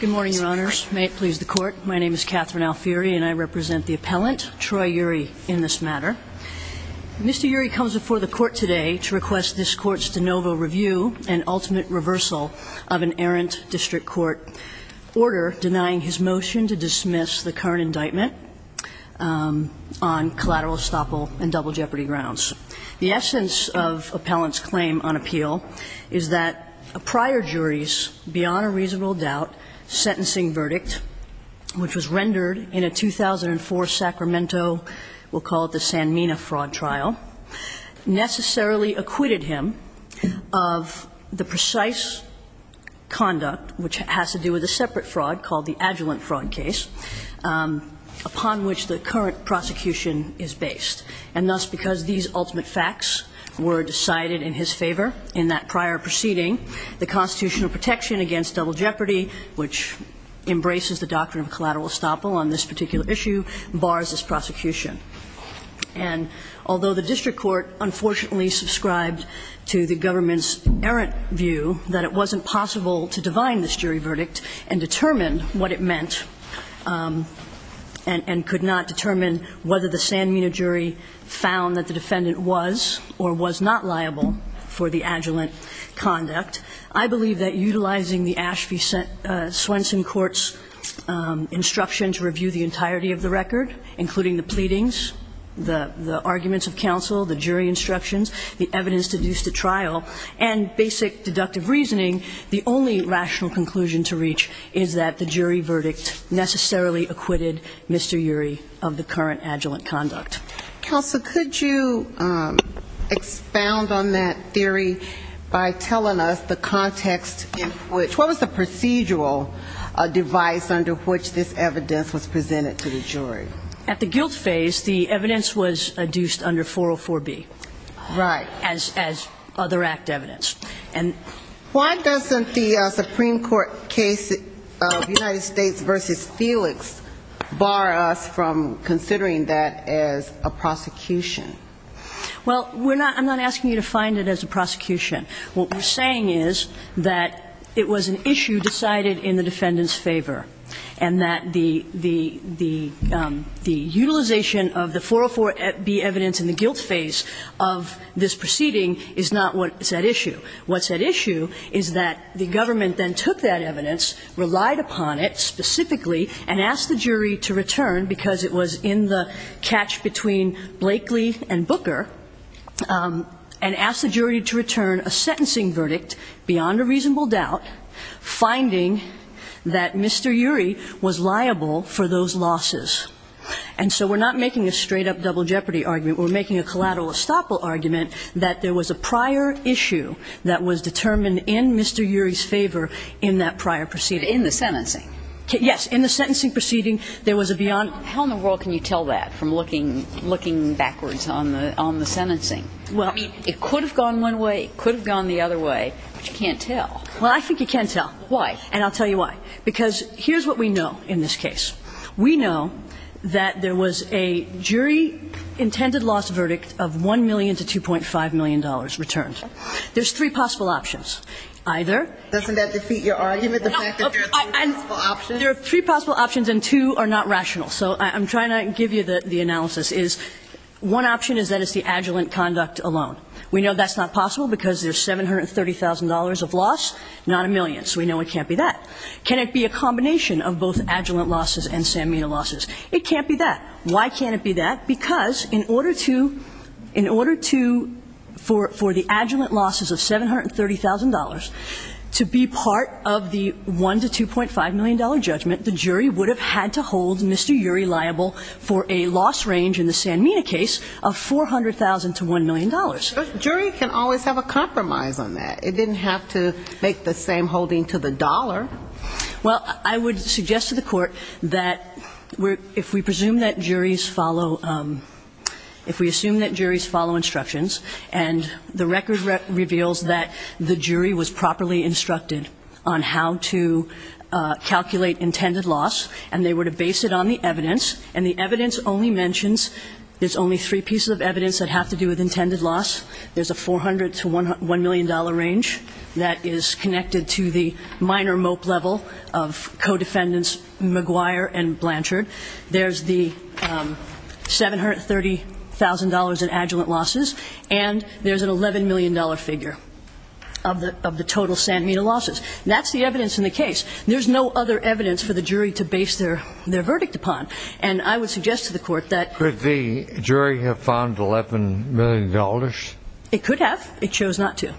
Good morning, Your Honors. May it please the Court. My name is Catherine Alfieri, and I represent the appellant, Troy Urie, in this matter. Mr. Urie comes before the Court today to request this Court's de novo review and ultimate reversal of an errant district court order denying his motion to dismiss the current indictment on collateral estoppel and double jeopardy grounds. The essence of appellant's claim on appeal is that prior juries, beyond a reasonable doubt, sentencing verdict, which was rendered in a 2004 Sacramento, we'll call it the Sanmina fraud trial, necessarily acquitted him of the precise conduct, which has to do with a separate fraud called the adjuvant fraud case, upon which the current prosecution is based. And thus, because these ultimate facts were decided in his favor in that prior proceeding, the constitutional protection against double jeopardy, which embraces the doctrine of collateral estoppel on this particular issue, bars this prosecution. And although the district court unfortunately subscribed to the government's errant view that it wasn't possible to divine this jury verdict and determine what it meant and could not determine whether the Sanmina jury found that the defendant was or was not liable for the adjuvant conduct, I believe that utilizing the Ashby-Swenson court's instruction to review the entirety of the record, including the pleadings, the arguments of counsel, the jury instructions, the evidence deduced at trial, and basic deductive reasoning, the only rational conclusion to reach is that the jury verdict necessarily acquitted Mr. Urey of the current adjuvant conduct. Counsel, could you expound on that theory by telling us the context in which what was the procedural device under which this evidence was presented to the jury? At the guilt phase, the evidence was deduced under 404B. Right. As other act evidence. Why doesn't the Supreme Court case of United States v. Felix bar us from considering that as a prosecution? Well, I'm not asking you to find it as a prosecution. What we're saying is that it was an issue decided in the defendant's favor, and that the utilization of the 404B evidence in the guilt phase of this proceeding is not that issue. What's at issue is that the government then took that evidence, relied upon it specifically, and asked the jury to return, because it was in the catch between Blakely and Booker, and asked the jury to return a sentencing verdict beyond a reasonable doubt, finding that Mr. Urey was liable for those losses. And so we're not making a straight-up double jeopardy argument. We're making a collateral estoppel argument that there was a prior issue that was determined in Mr. Urey's favor in that prior proceeding. In the sentencing? Yes. In the sentencing proceeding, there was a beyond. How in the world can you tell that from looking backwards on the sentencing? Well, I mean, it could have gone one way, it could have gone the other way, but you can't tell. Well, I think you can tell. Why? And I'll tell you why. Because here's what we know in this case. We know that there was a jury-intended-loss verdict of $1 million to $2.5 million returned. There's three possible options. Either ---- Doesn't that defeat your argument, the fact that there are three possible options? There are three possible options, and two are not rational. So I'm trying to give you the analysis. One option is that it's the adjuvant conduct alone. We know that's not possible because there's $730,000 of loss, not a million. So we know it can't be that. Can it be a combination of both adjuvant losses and Sanmina losses? It can't be that. Why can't it be that? Because in order to ---- in order to, for the adjuvant losses of $730,000, to be part of the $1 million to $2.5 million judgment, the jury would have had to hold Mr. Urey liable for a loss range in the Sanmina case of $400,000 to $1 million. But a jury can always have a compromise on that. It didn't have to make the same holding to the dollar. Well, I would suggest to the Court that if we presume that juries follow ---- if we assume that juries follow instructions, and the record reveals that the jury was properly instructed on how to calculate intended loss, and they were to base it on the evidence, and the evidence only mentions there's only three pieces of evidence that have to do with intended loss, there's a $400,000 to $1 million range that is connected to the minor mope level of co-defendants McGuire and Blanchard, there's the $730,000 in adjuvant losses, and there's an $11 million figure of the total Sanmina losses. That's the evidence in the case. There's no other evidence for the jury to base their verdict upon. And I would suggest to the Court that ---- Would the jury have found $11 million? It could have. It chose not to.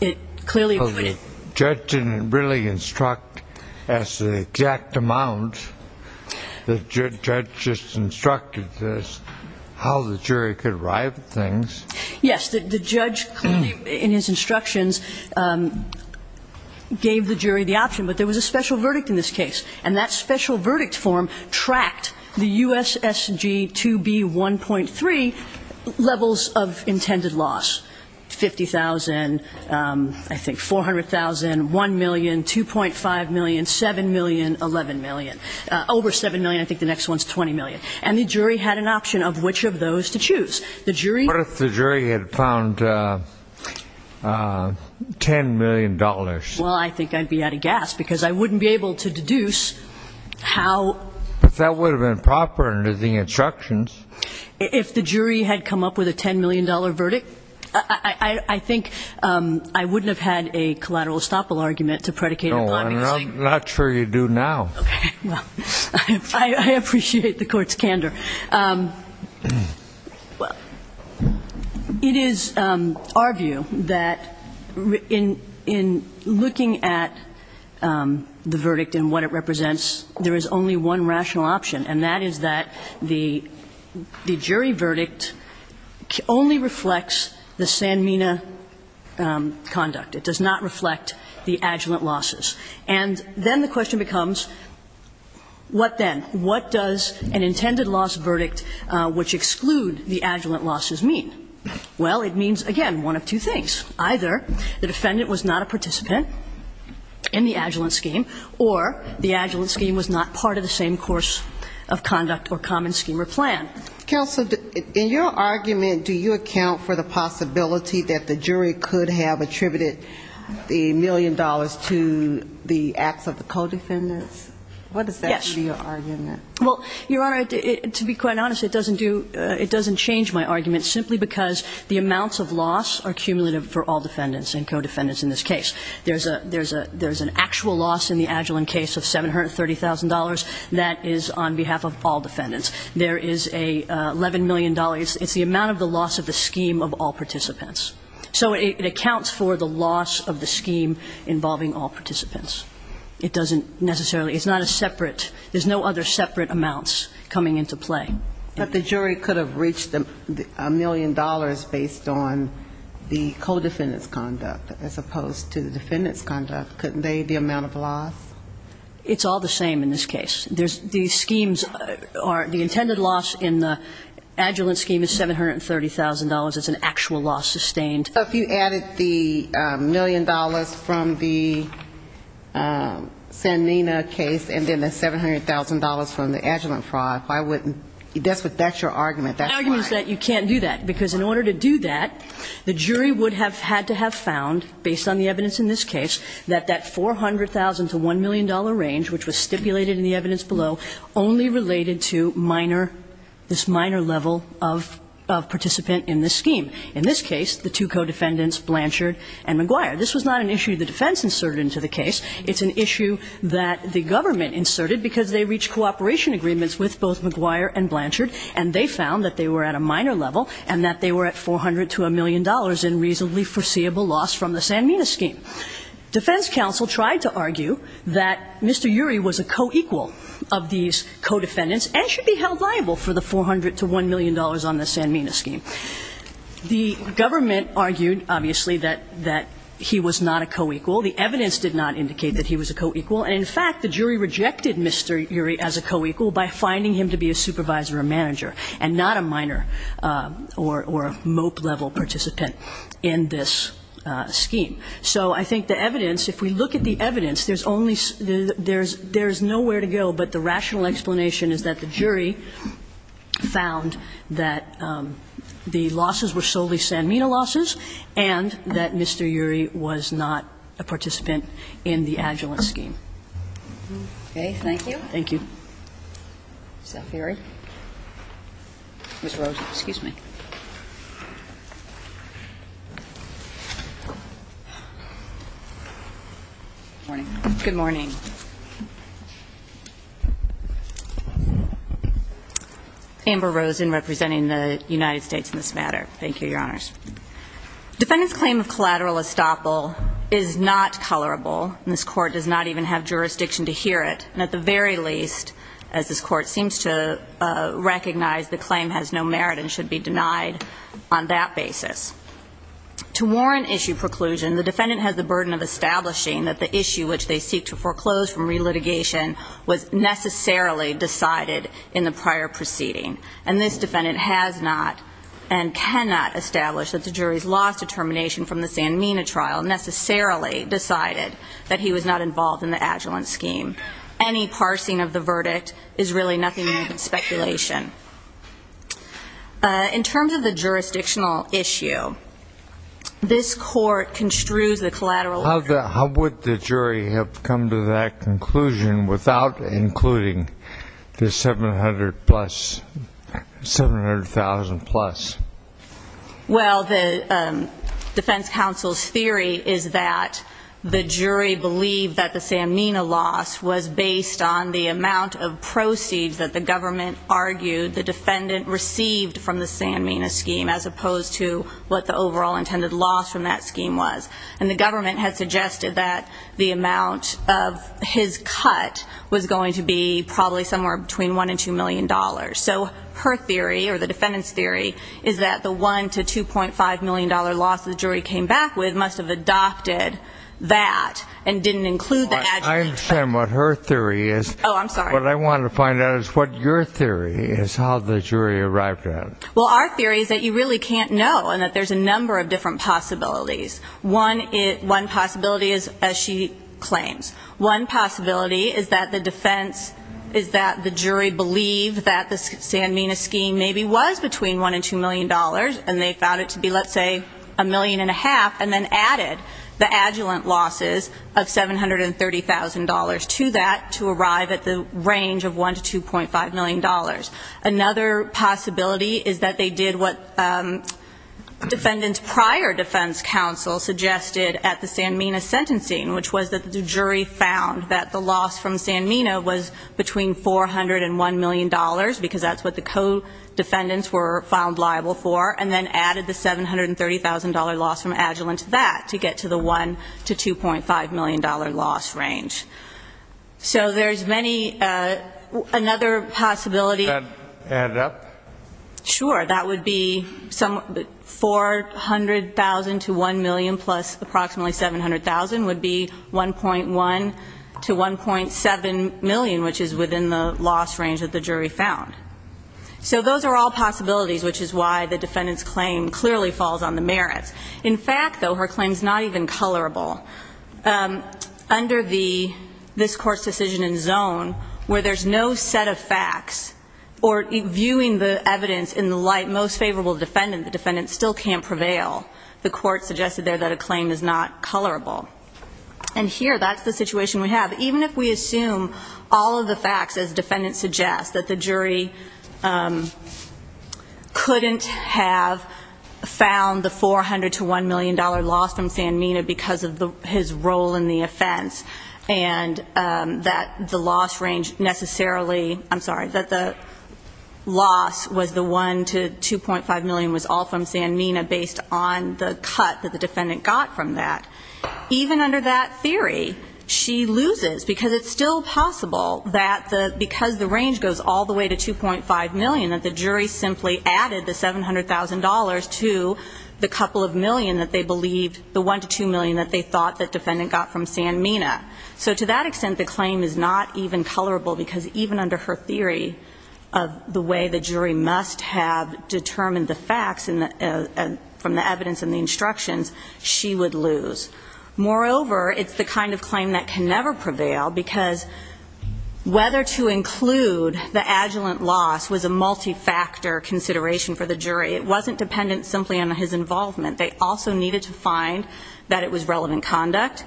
It clearly would have. The judge didn't really instruct us the exact amount. The judge just instructed us how the jury could arrive at things. Yes, the judge clearly, in his instructions, gave the jury the option. But there was a special verdict in this case, and that special verdict form tracked the USSG 2B 1.3 levels of intended loss, $50,000, I think $400,000, $1 million, $2.5 million, $7 million, $11 million, over $7 million. I think the next one's $20 million. And the jury had an option of which of those to choose. What if the jury had found $10 million? Well, I think I'd be out of gas, because I wouldn't be able to deduce how ---- But that would have been proper under the instructions. If the jury had come up with a $10 million verdict, I think I wouldn't have had a collateral estoppel argument to predicate ---- No, I'm not sure you do now. Okay. Well, I appreciate the Court's candor. Well, it is our view that in looking at the verdict and what it represents, there is only one rational option, and that is that the jury verdict only reflects the Sanmina conduct. It does not reflect the adjuvant losses. And then the question becomes, what then? What does an intended loss verdict, which exclude the adjuvant losses, mean? Well, it means, again, one of two things. Either the defendant was not a participant in the adjuvant scheme, or the adjuvant scheme was not part of the same course of conduct or common scheme or plan. Counsel, in your argument, do you account for the possibility that the jury could have attributed the million dollars to the acts of the co-defendants? Yes. In your argument. Well, Your Honor, to be quite honest, it doesn't do ---- it doesn't change my argument simply because the amounts of loss are cumulative for all defendants and co-defendants in this case. There is an actual loss in the adjuvant case of $730,000 that is on behalf of all defendants. There is a $11 million. It's the amount of the loss of the scheme of all participants. So it accounts for the loss of the scheme involving all participants. It doesn't necessarily ---- It's not a separate ---- there's no other separate amounts coming into play. But the jury could have reached a million dollars based on the co-defendants' conduct as opposed to the defendants' conduct. Couldn't they, the amount of loss? It's all the same in this case. The schemes are ---- the intended loss in the adjuvant scheme is $730,000. It's an actual loss sustained. So if you added the million dollars from the Sanina case and then the $700,000 from the adjuvant fraud, why wouldn't ---- that's what ---- that's your argument. That's why. The argument is that you can't do that, because in order to do that, the jury would have had to have found, based on the evidence in this case, that that $400,000 to $1 million range, which was stipulated in the evidence below, only related to minor ---- this minor level of participant in this scheme. In this case, the two co-defendants Blanchard and McGuire. This was not an issue the defense inserted into the case. It's an issue that the government inserted because they reached cooperation agreements with both McGuire and Blanchard, and they found that they were at a minor level and that they were at $400 to $1 million in reasonably foreseeable loss from the Sanmina scheme. Defense counsel tried to argue that Mr. Urey was a co-equal of these co-defendants and should be held liable for the $400 to $1 million on the Sanmina scheme. The government argued, obviously, that he was not a co-equal. The evidence did not indicate that he was a co-equal. And in fact, the jury rejected Mr. Urey as a co-equal by finding him to be a supervisor or manager and not a minor or a MOPE-level participant in this scheme. So I think the evidence, if we look at the evidence, there's only ---- there's nowhere to go, but the rational explanation is that the jury found that Mr. Urey was not a co-equal, that the losses were solely Sanmina losses, and that Mr. Urey was not a participant in the Agilent scheme. Thank you. Thank you. Ms. Rosen. Good morning. Good morning. Amber Rosen, representing the United States in this matter. Thank you, Your Honors. Defendant's claim of collateral estoppel is not colorable, and this Court does not even have jurisdiction to hear it. And at the very least, as this Court seems to recognize, the claim has no merit and should be denied on that basis. To warrant issue preclusion, the defendant has the burden of establishing that the issue which they seek to foreclose from relitigation was necessarily decided in the prior proceeding. And this defendant has not and cannot establish that the jury's loss determination from the Sanmina trial necessarily decided that he was not involved in the Agilent scheme. Any parsing of the verdict is really nothing more than speculation. In terms of the jurisdictional issue, this Court construes the collateral ---- How would the jury have come to that conclusion without including the 700,000 plus? Well, the defense counsel's theory is that the jury believed that the Sanmina loss was based on the amount of proceeds that the government argued the defendant received from the Sanmina scheme as opposed to what the overall intended loss from that scheme was. And the government had suggested that the amount of his cut was going to be probably somewhere between $1 and $2 million. So her theory, or the defendant's theory, is that the $1 to $2.5 million loss the jury came back with must have adopted that and didn't include the Agilent scheme. I understand what her theory is. Oh, I'm sorry. What I wanted to find out is what your theory is, how the jury arrived at it. Well, our theory is that you really can't know and that there's a number of different possibilities. One possibility is, as she claims, one possibility is that the defense ---- is that the jury believed that the Sanmina scheme maybe was between $1 and $2 million and they found it to be, let's say, $1.5 million and then added the Agilent losses of $730,000 to that to arrive at the range of $1 to $2.5 million. Another possibility is that they did what defendants' prior defense counsel suggested at the Sanmina sentencing, which was that the jury found that the loss from Sanmina was between $400 and $1 million because that's what the co-defendants were found liable for, and then added the $730,000 loss from Agilent to that to get to the $1 to $2.5 million loss range. So there's many ---- another possibility ---- Can you add it up? Sure. That would be $400,000 to $1 million plus approximately $700,000 would be $1.1 to $1.7 million, which is within the loss range that the jury found. So those are all possibilities, which is why the defendant's claim clearly falls on the merits. In fact, though, her claim is not even colorable. Under the ---- this Court's decision in zone, where there's no set of facts or viewing the evidence in the light most favorable to the defendant, the defendant still can't prevail. The Court suggested there that a claim is not colorable. And here, that's the situation we have. Even if we assume all of the facts, as defendants suggest, that the jury couldn't have found the $400 to $1 million loss from Sanmina because of his role in the offense, and that the loss range necessarily ---- I'm sorry, that the loss was the $1 to $2.5 million was all from Sanmina based on the cut that the defendant got from that. Even under that theory, she loses because it's still possible that the ---- that the jury simply added the $700,000 to the couple of million that they believed the $1 to $2 million that they thought the defendant got from Sanmina. So to that extent, the claim is not even colorable because even under her theory of the way the jury must have determined the facts from the evidence and the instructions, she would lose. Moreover, it's the kind of claim that can never prevail because whether to multi-factor consideration for the jury. It wasn't dependent simply on his involvement. They also needed to find that it was relevant conduct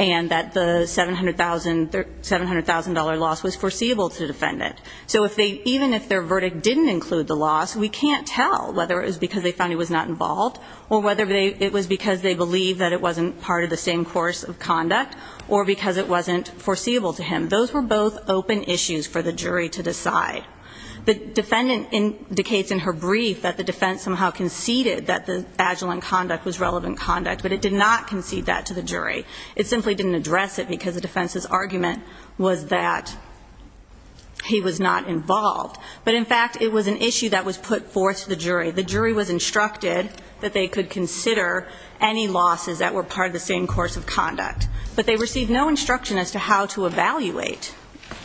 and that the $700,000 loss was foreseeable to the defendant. So if they ---- even if their verdict didn't include the loss, we can't tell whether it was because they found he was not involved or whether it was because they believed that it wasn't part of the same course of conduct or because it wasn't foreseeable to him. Those were both open issues for the jury to decide. The defendant indicates in her brief that the defense somehow conceded that the agile in conduct was relevant conduct, but it did not concede that to the jury. It simply didn't address it because the defense's argument was that he was not involved. But in fact, it was an issue that was put forth to the jury. The jury was instructed that they could consider any losses that were part of the same course of conduct. But they received no instruction as to how to evaluate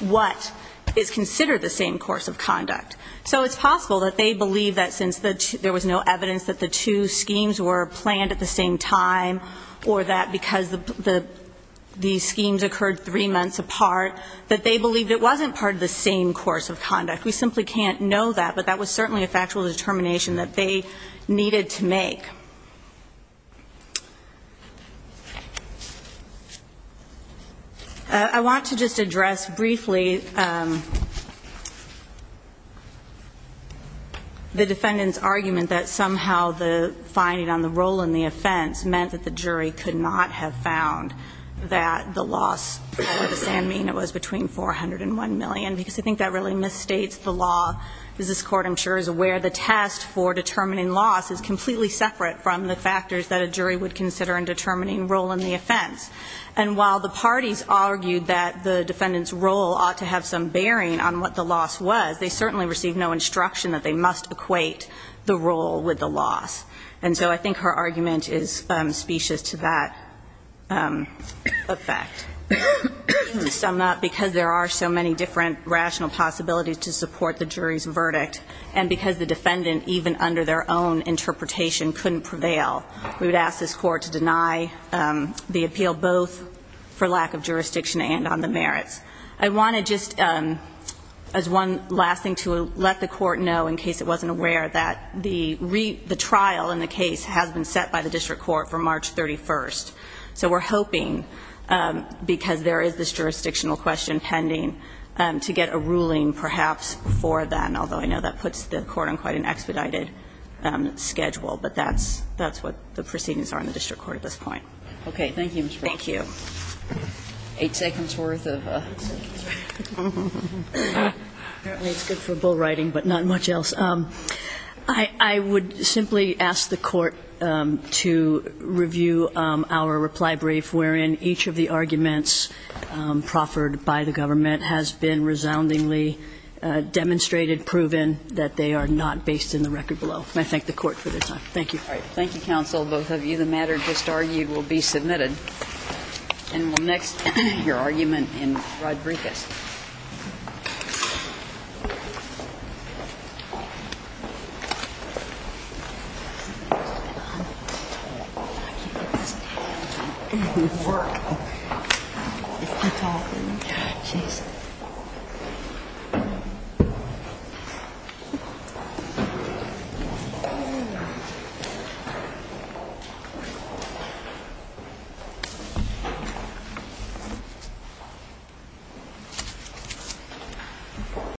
what is considered the same course of conduct. So it's possible that they believe that since there was no evidence that the two schemes were planned at the same time or that because the schemes occurred three months apart, that they believed it wasn't part of the same course of conduct. We simply can't know that, but that was certainly a factual determination that they needed to make. I want to just address briefly the defendant's argument that somehow the finding on the role in the offense meant that the jury could not have found that the loss for the sand mean was between $400 and $1 million because I think that really misstates the law. This Court, I'm sure, is aware the test for determining loss is completely separate from the factors that a jury would consider in determining role in the offense. And while the parties argued that the defendant's role ought to have some bearing on what the loss was, they certainly received no instruction that they must equate the role with the loss. And so I think her argument is specious to that effect. Just sum up, because there are so many different rational possibilities to support the jury's verdict and because the defendant, even under their own interpretation, couldn't prevail, we would ask this Court to deny the appeal both for lack of jurisdiction and on the merits. I want to just, as one last thing, to let the Court know, in case it wasn't aware, that the trial in the case has been set by the district court for March 31st. So we're hoping, because there is this jurisdictional question pending, to get a ruling perhaps before then, although I know that puts the Court on quite an expedited schedule. But that's what the proceedings are in the district court at this point. Thank you, Ms. Brown. Thank you. Eight seconds worth of... Apparently it's good for bull riding, but not much else. I would simply ask the Court to review our reply brief, wherein each of the arguments proffered by the government has been resoundingly demonstrated, and proven, that they are not based in the record below. And I thank the Court for their time. Thank you. All right. Thank you, counsel. Both of you. The matter just argued will be submitted. And we'll next hear your argument in Rodriguez. Thank you, Ms. Brown. Thank you. Thank you.